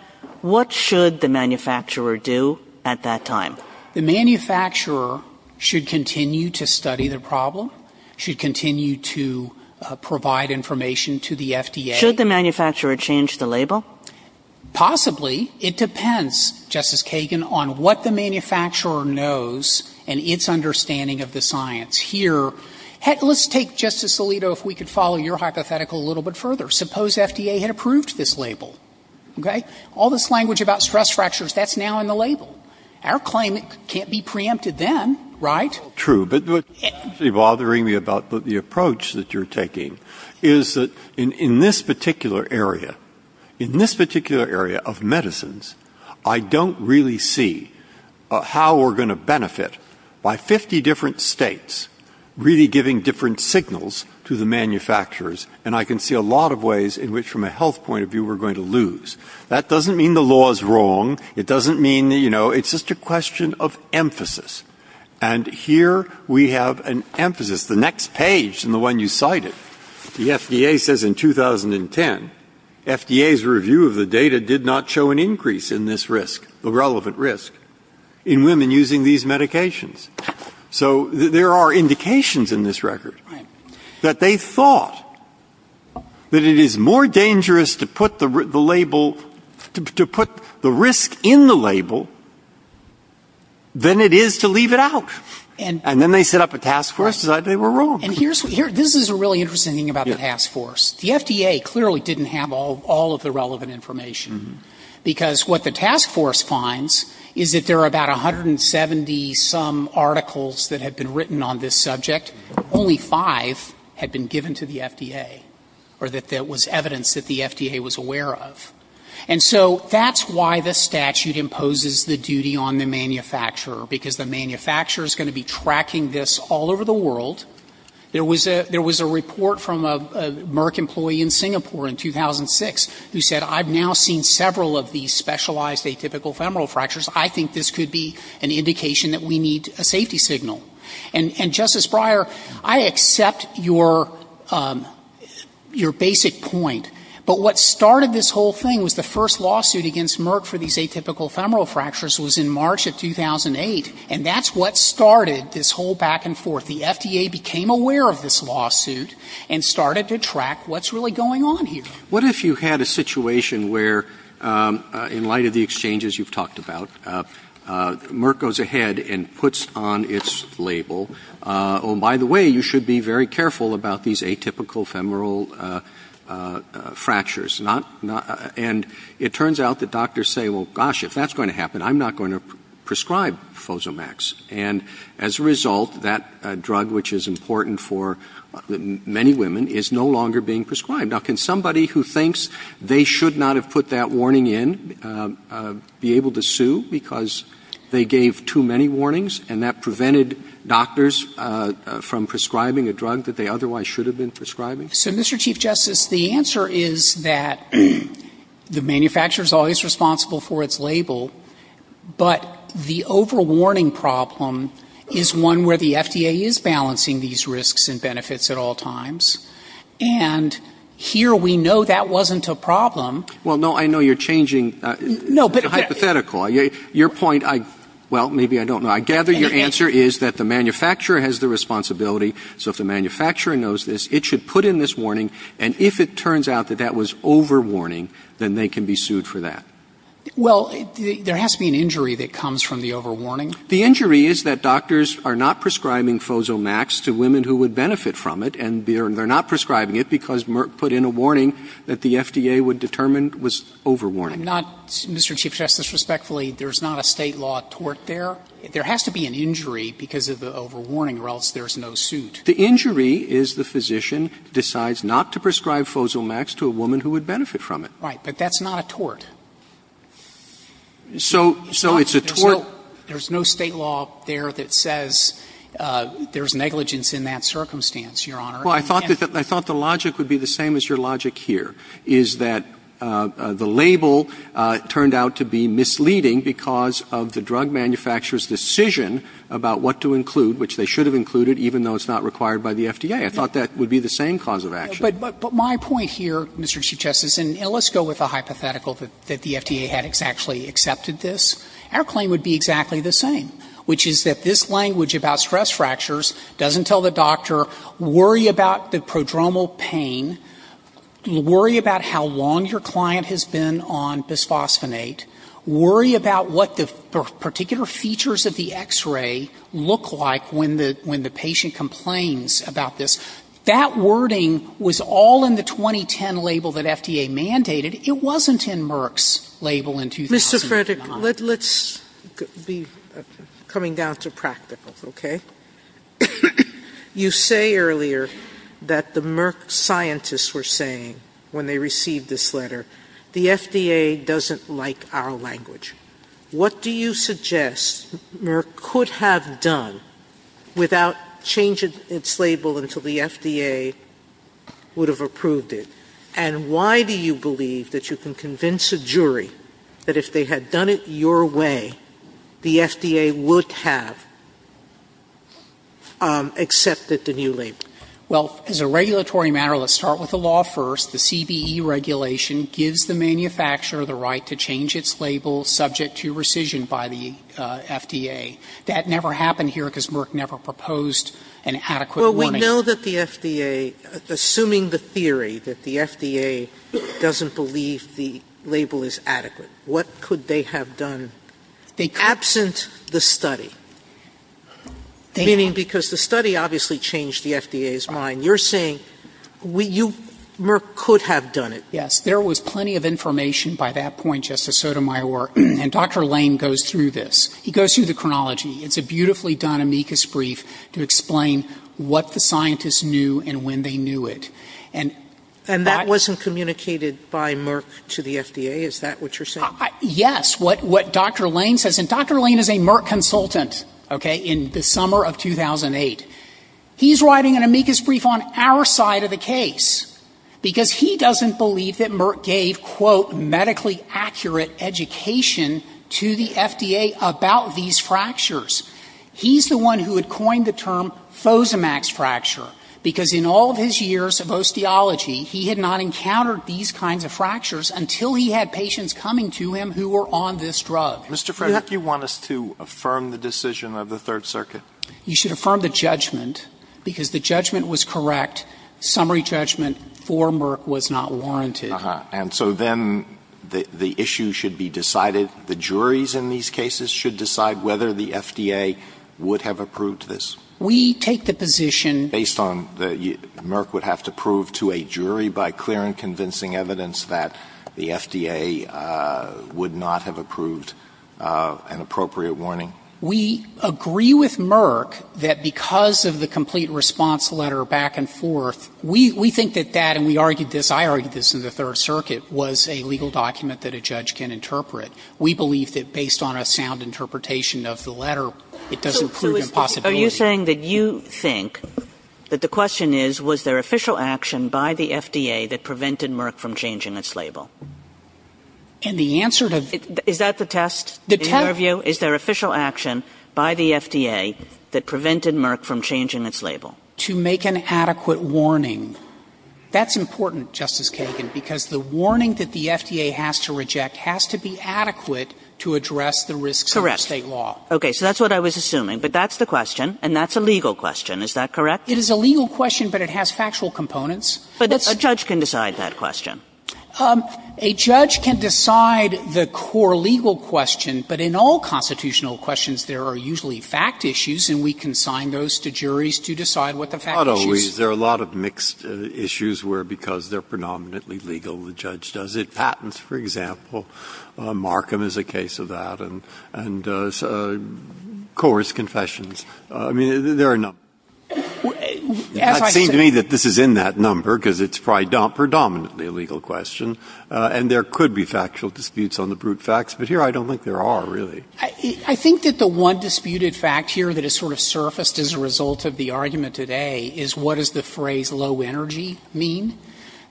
what should the manufacturer do at that time? The manufacturer should continue to study the problem, should continue to provide information to the FDA. Should the manufacturer change the label? Possibly. It depends, Justice Kagan, on what the manufacturer knows and its understanding of the science. Here, let's take, Justice Alito, if we could follow your hypothetical a little bit further. Suppose FDA had approved this label, okay? All this language about stress fractures, that's now in the label. Our claim, it can't be preempted then, right? True. But what's bothering me about the approach that you're taking is that in this particular area, in this particular area of medicines, I don't really see how we're going to benefit by 50 different states really giving different signals to the manufacturers. And I can see a lot of ways in which, from a health point of view, we're going to lose. That doesn't mean the law is wrong. It doesn't mean, you know, it's just a question of emphasis. And here we have an emphasis, the next page in the one you cited. The FDA says in 2010, FDA's review of the data did not show an increase in this risk, the relevant risk, in women using these medications. So there are indications in this record. Right. That they thought that it is more dangerous to put the label, to put the risk in the label than it is to leave it out. And then they set up a task force, decided they were wrong. And here's, this is a really interesting thing about the task force. The FDA clearly didn't have all of the relevant information. Because what the task force finds is that there are about 170 some articles that have been written on this subject. Only five had been given to the FDA. Or that there was evidence that the FDA was aware of. And so that's why the statute imposes the duty on the manufacturer. Because the manufacturer is going to be tracking this all over the world. There was a report from a Merck employee in Singapore in 2006 who said, I've now seen several of these specialized atypical femoral fractures. I think this could be an indication that we need a safety signal. And, Justice Breyer, I accept your basic point. But what started this whole thing was the first lawsuit against Merck for these atypical femoral fractures was in March of 2008. And that's what started this whole back and forth. The FDA became aware of this lawsuit and started to track what's really going on here. What if you had a situation where, in light of the exchanges you've talked about, Merck goes ahead and puts on its label, oh, by the way, you should be very careful about these atypical femoral fractures. And it turns out that doctors say, well, gosh, if that's going to happen, I'm not going to prescribe Fozomax. And as a result, that drug, which is important for many women, is no longer being prescribed. Now, can somebody who thinks they should not have put that warning in be able to sue because they gave too many warnings and that prevented doctors from prescribing a drug that they otherwise should have been prescribing? So, Mr. Chief Justice, the answer is that the manufacturer is always responsible for its label, but the overwarning problem is one where the FDA is balancing these risks and benefits at all times. And here we know that wasn't a problem. Well, no, I know you're changing hypothetical. Your point, well, maybe I don't know. I gather your answer is that the manufacturer has the responsibility. So if the manufacturer knows this, it should put in this warning. And if it turns out that that was overwarning, then they can be sued for that. Well, there has to be an injury that comes from the overwarning. The injury is that doctors are not prescribing Fozomax to women who would benefit from it, and they're not prescribing it because Merck put in a warning that the FDA would determine was overwarning. Not, Mr. Chief Justice, respectfully, there's not a State law tort there. There has to be an injury because of the overwarning or else there's no suit. The injury is the physician decides not to prescribe Fozomax to a woman who would benefit from it. Right. But that's not a tort. So it's a tort. There's no State law there that says there's negligence in that circumstance, Your Honor. Well, I thought the logic would be the same as your logic here, is that the label turned out to be misleading because of the drug manufacturer's decision about what to include, which they should have included, even though it's not required by the FDA. I thought that would be the same cause of action. But my point here, Mr. Chief Justice, and let's go with a hypothetical that the FDA had actually accepted this. Our claim would be exactly the same, which is that this language about stress fractures doesn't tell the doctor, worry about the prodromal pain, worry about how long your client has been on bisphosphonate, worry about what the particular features of the X-ray look like when the patient complains about this. That wording was all in the 2010 label that FDA mandated. It wasn't in Merck's label in 2009. Mr. Frederick, let's be coming down to practical, okay? You say earlier that the Merck scientists were saying when they received this letter, the FDA doesn't like our language. What do you suggest Merck could have done without changing its label until the FDA would have approved it? And why do you believe that you can convince a jury that if they had done it your way, the FDA would have accepted the new label? Frederick, well, as a regulatory matter, let's start with the law first. The CBE regulation gives the manufacturer the right to change its label subject to rescission by the FDA. That never happened here because Merck never proposed an adequate warning. Sotomayor, do you know that the FDA, assuming the theory that the FDA doesn't believe the label is adequate, what could they have done absent the study? Meaning because the study obviously changed the FDA's mind. You're saying Merck could have done it. Frederick, yes. There was plenty of information by that point, Justice Sotomayor. And Dr. Lane goes through this. He goes through the chronology. It's a beautifully done amicus brief to explain what the scientists knew and when they knew it. And that wasn't communicated by Merck to the FDA. Is that what you're saying? Yes. What Dr. Lane says, and Dr. Lane is a Merck consultant, okay, in the summer of 2008. He's writing an amicus brief on our side of the case because he doesn't believe that Merck gave, quote, medically accurate education to the FDA about these fractures. He's the one who had coined the term Fosamax fracture because in all of his years of osteology, he had not encountered these kinds of fractures until he had patients coming to him who were on this drug. Mr. Frederick, do you want us to affirm the decision of the Third Circuit? You should affirm the judgment because the judgment was correct. Summary judgment for Merck was not warranted. And so then the issue should be decided. The juries in these cases should decide whether the FDA would have approved this. We take the position. Based on Merck would have to prove to a jury by clear and convincing evidence that the FDA would not have approved an appropriate warning. We agree with Merck that because of the complete response letter back and forth, we think that that, and we argued this, I argued this in the Third Circuit, was a legal document that a judge can interpret. We believe that based on a sound interpretation of the letter, it doesn't prove impossibility. Are you saying that you think that the question is, was there official action by the FDA that prevented Merck from changing its label? And the answer to the Is that the test? The test In your view, is there official action by the FDA that prevented Merck from changing its label? To make an adequate warning. That's important, Justice Kagan, because the warning that the FDA has to reject has to be adequate to address the risks of the State law. Correct. Okay. So that's what I was assuming. But that's the question. And that's a legal question. Is that correct? It is a legal question, but it has factual components. But a judge can decide that question. A judge can decide the core legal question, but in all constitutional questions there are usually fact issues, and we can sign those to juries to decide what the fact issue is. Not always. There are a lot of mixed issues where because they're predominantly legal, the judge does it. Patents, for example. Markham is a case of that. And Coors Confessions. I mean, there are a number. As I said to me that this is in that number because it's predominantly a legal question. And there could be factual disputes on the brute facts. But here I don't think there are, really. I think that the one disputed fact here that has sort of surfaced as a result of the argument today is what does the phrase low energy mean?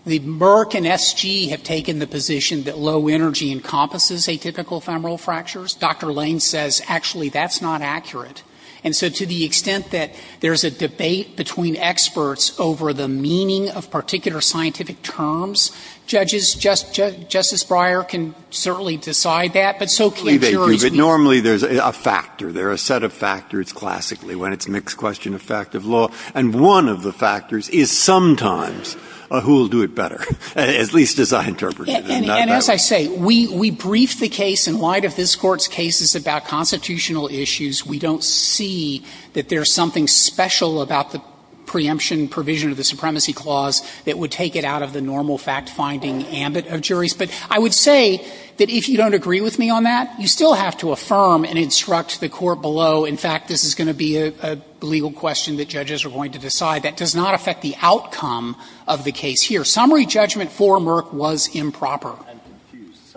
The Merck and SG have taken the position that low energy encompasses atypical femoral fractures. Dr. Lane says actually that's not accurate. And so to the extent that there's a debate between experts over the meaning of particular scientific terms, judges, Justice Breyer can certainly decide that. But so can jurors. Breyer. But normally there's a factor. There are a set of factors classically when it's a mixed question of fact of law. And one of the factors is sometimes who will do it better, at least as I interpret it. And as I say, we brief the case in light of this Court's cases about constitutional issues. We don't see that there's something special about the preemption provision of the Supremacy Clause that would take it out of the normal fact-finding ambit of juries. But I would say that if you don't agree with me on that, you still have to affirm and instruct the Court below, in fact, this is going to be a legal question that judges are going to decide. That does not affect the outcome of the case here. Summary judgment for Merck was improper. Alito, I'm confused.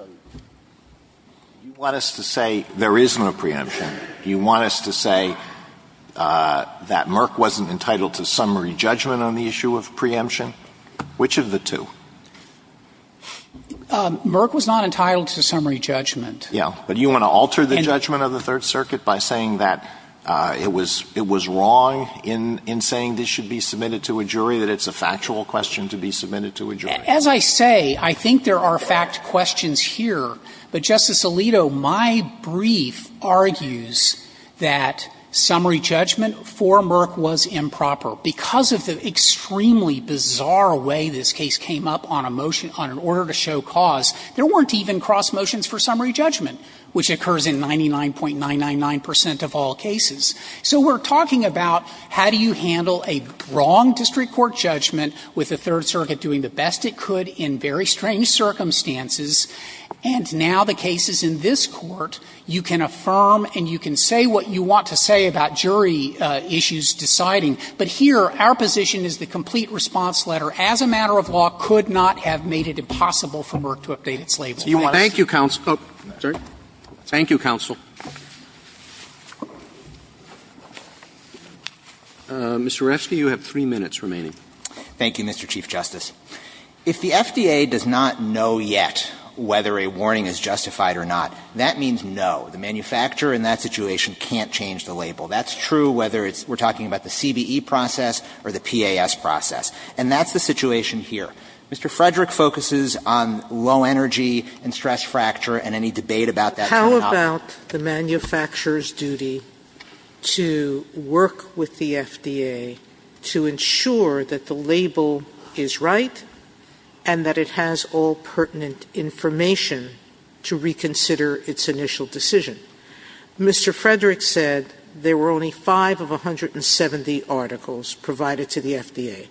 You want us to say there is no preemption? Do you want us to say that Merck wasn't entitled to summary judgment on the issue of preemption? Which of the two? Merck was not entitled to summary judgment. Yeah. But do you want to alter the judgment of the Third Circuit by saying that it was wrong in saying this should be submitted to a jury, that it's a factual question to be submitted to a jury? As I say, I think there are fact questions here. But, Justice Alito, my brief argues that summary judgment for Merck was improper. Because of the extremely bizarre way this case came up on a motion, on an order to show cause, there weren't even cross motions for summary judgment, which occurs in 99.999 percent of all cases. So we're talking about how do you handle a wrong district court judgment with the best it could in very strange circumstances, and now the cases in this Court, you can affirm and you can say what you want to say about jury issues deciding. But here, our position is the complete response letter, as a matter of law, could not have made it impossible for Merck to update its label. Thank you, counsel. Oh, sorry. Thank you, counsel. Mr. Oreskes, you have three minutes remaining. Thank you, Mr. Chief Justice. If the FDA does not know yet whether a warning is justified or not, that means no. The manufacturer in that situation can't change the label. That's true whether it's we're talking about the CBE process or the PAS process. And that's the situation here. Mr. Frederick focuses on low energy and stress fracture and any debate about that is not possible. How about the manufacturer's duty to work with the FDA to ensure that the label is right and that it has all pertinent information to reconsider its initial decision? Mr. Frederick said there were only five of 170 articles provided to the FDA.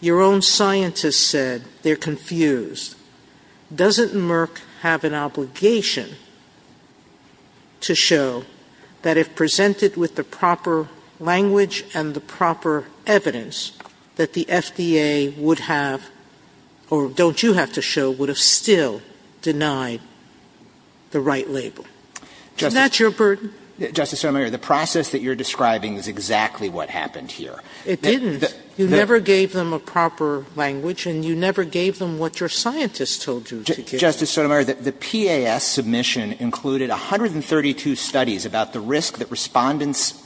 Your own scientists said they're confused. Doesn't Merck have an obligation to show that if presented with the proper language and the proper evidence that the FDA would have, or don't you have to show, would have still denied the right label? Is that your burden? Justice Sotomayor, the process that you're describing is exactly what happened here. It didn't. You never gave them a proper language and you never gave them what your scientists told you to give them. Justice Sotomayor, the PAS submission included 132 studies about the risk that Respondents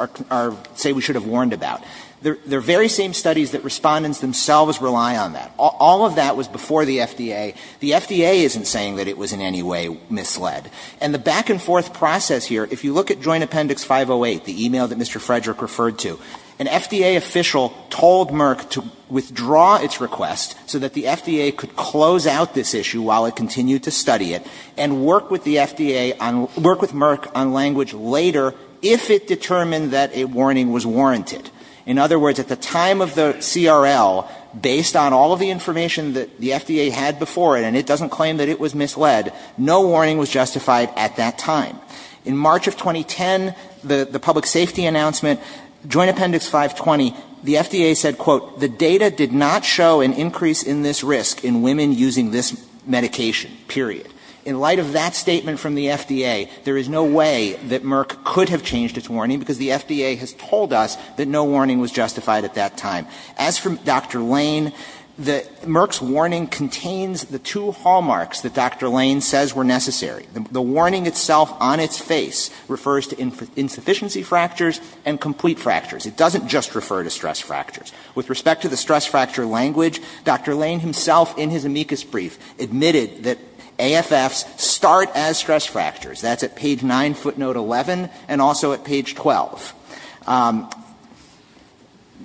say we should have warned about. They're very same studies that Respondents themselves rely on that. All of that was before the FDA. The FDA isn't saying that it was in any way misled. And the back and forth process here, if you look at Joint Appendix 508, the e-mail that Mr. Frederick referred to, an FDA official told Merck to withdraw its request so that the FDA could close out this issue while it continued to study it and work with the FDA on, work with Merck on language later if it determined that a warning was warranted. In other words, at the time of the CRL, based on all of the information that the FDA had before it, and it doesn't claim that it was misled, no warning was justified at that time. In March of 2010, the public safety announcement, Joint Appendix 520, the FDA said, quote, the data did not show an increase in this risk in women using this medication, period. In light of that statement from the FDA, there is no way that Merck could have changed its warning because the FDA has told us that no warning was justified at that time. As for Dr. Lane, Merck's warning contains the two hallmarks that Dr. Lane says were necessary. The warning itself on its face refers to insufficiency fractures and complete fractures. It doesn't just refer to stress fractures. With respect to the stress fracture language, Dr. Lane himself in his amicus brief admitted that AFFs start as stress fractures. That's at page 9, footnote 11, and also at page 12.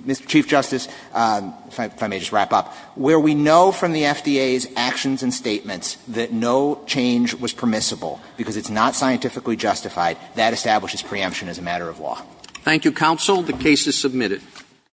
Mr. Chief Justice, if I may just wrap up, where we know from the FDA's actions and statements that no change was permissible because it's not scientifically justified, that establishes preemption as a matter of law. Thank you, counsel. The case is submitted.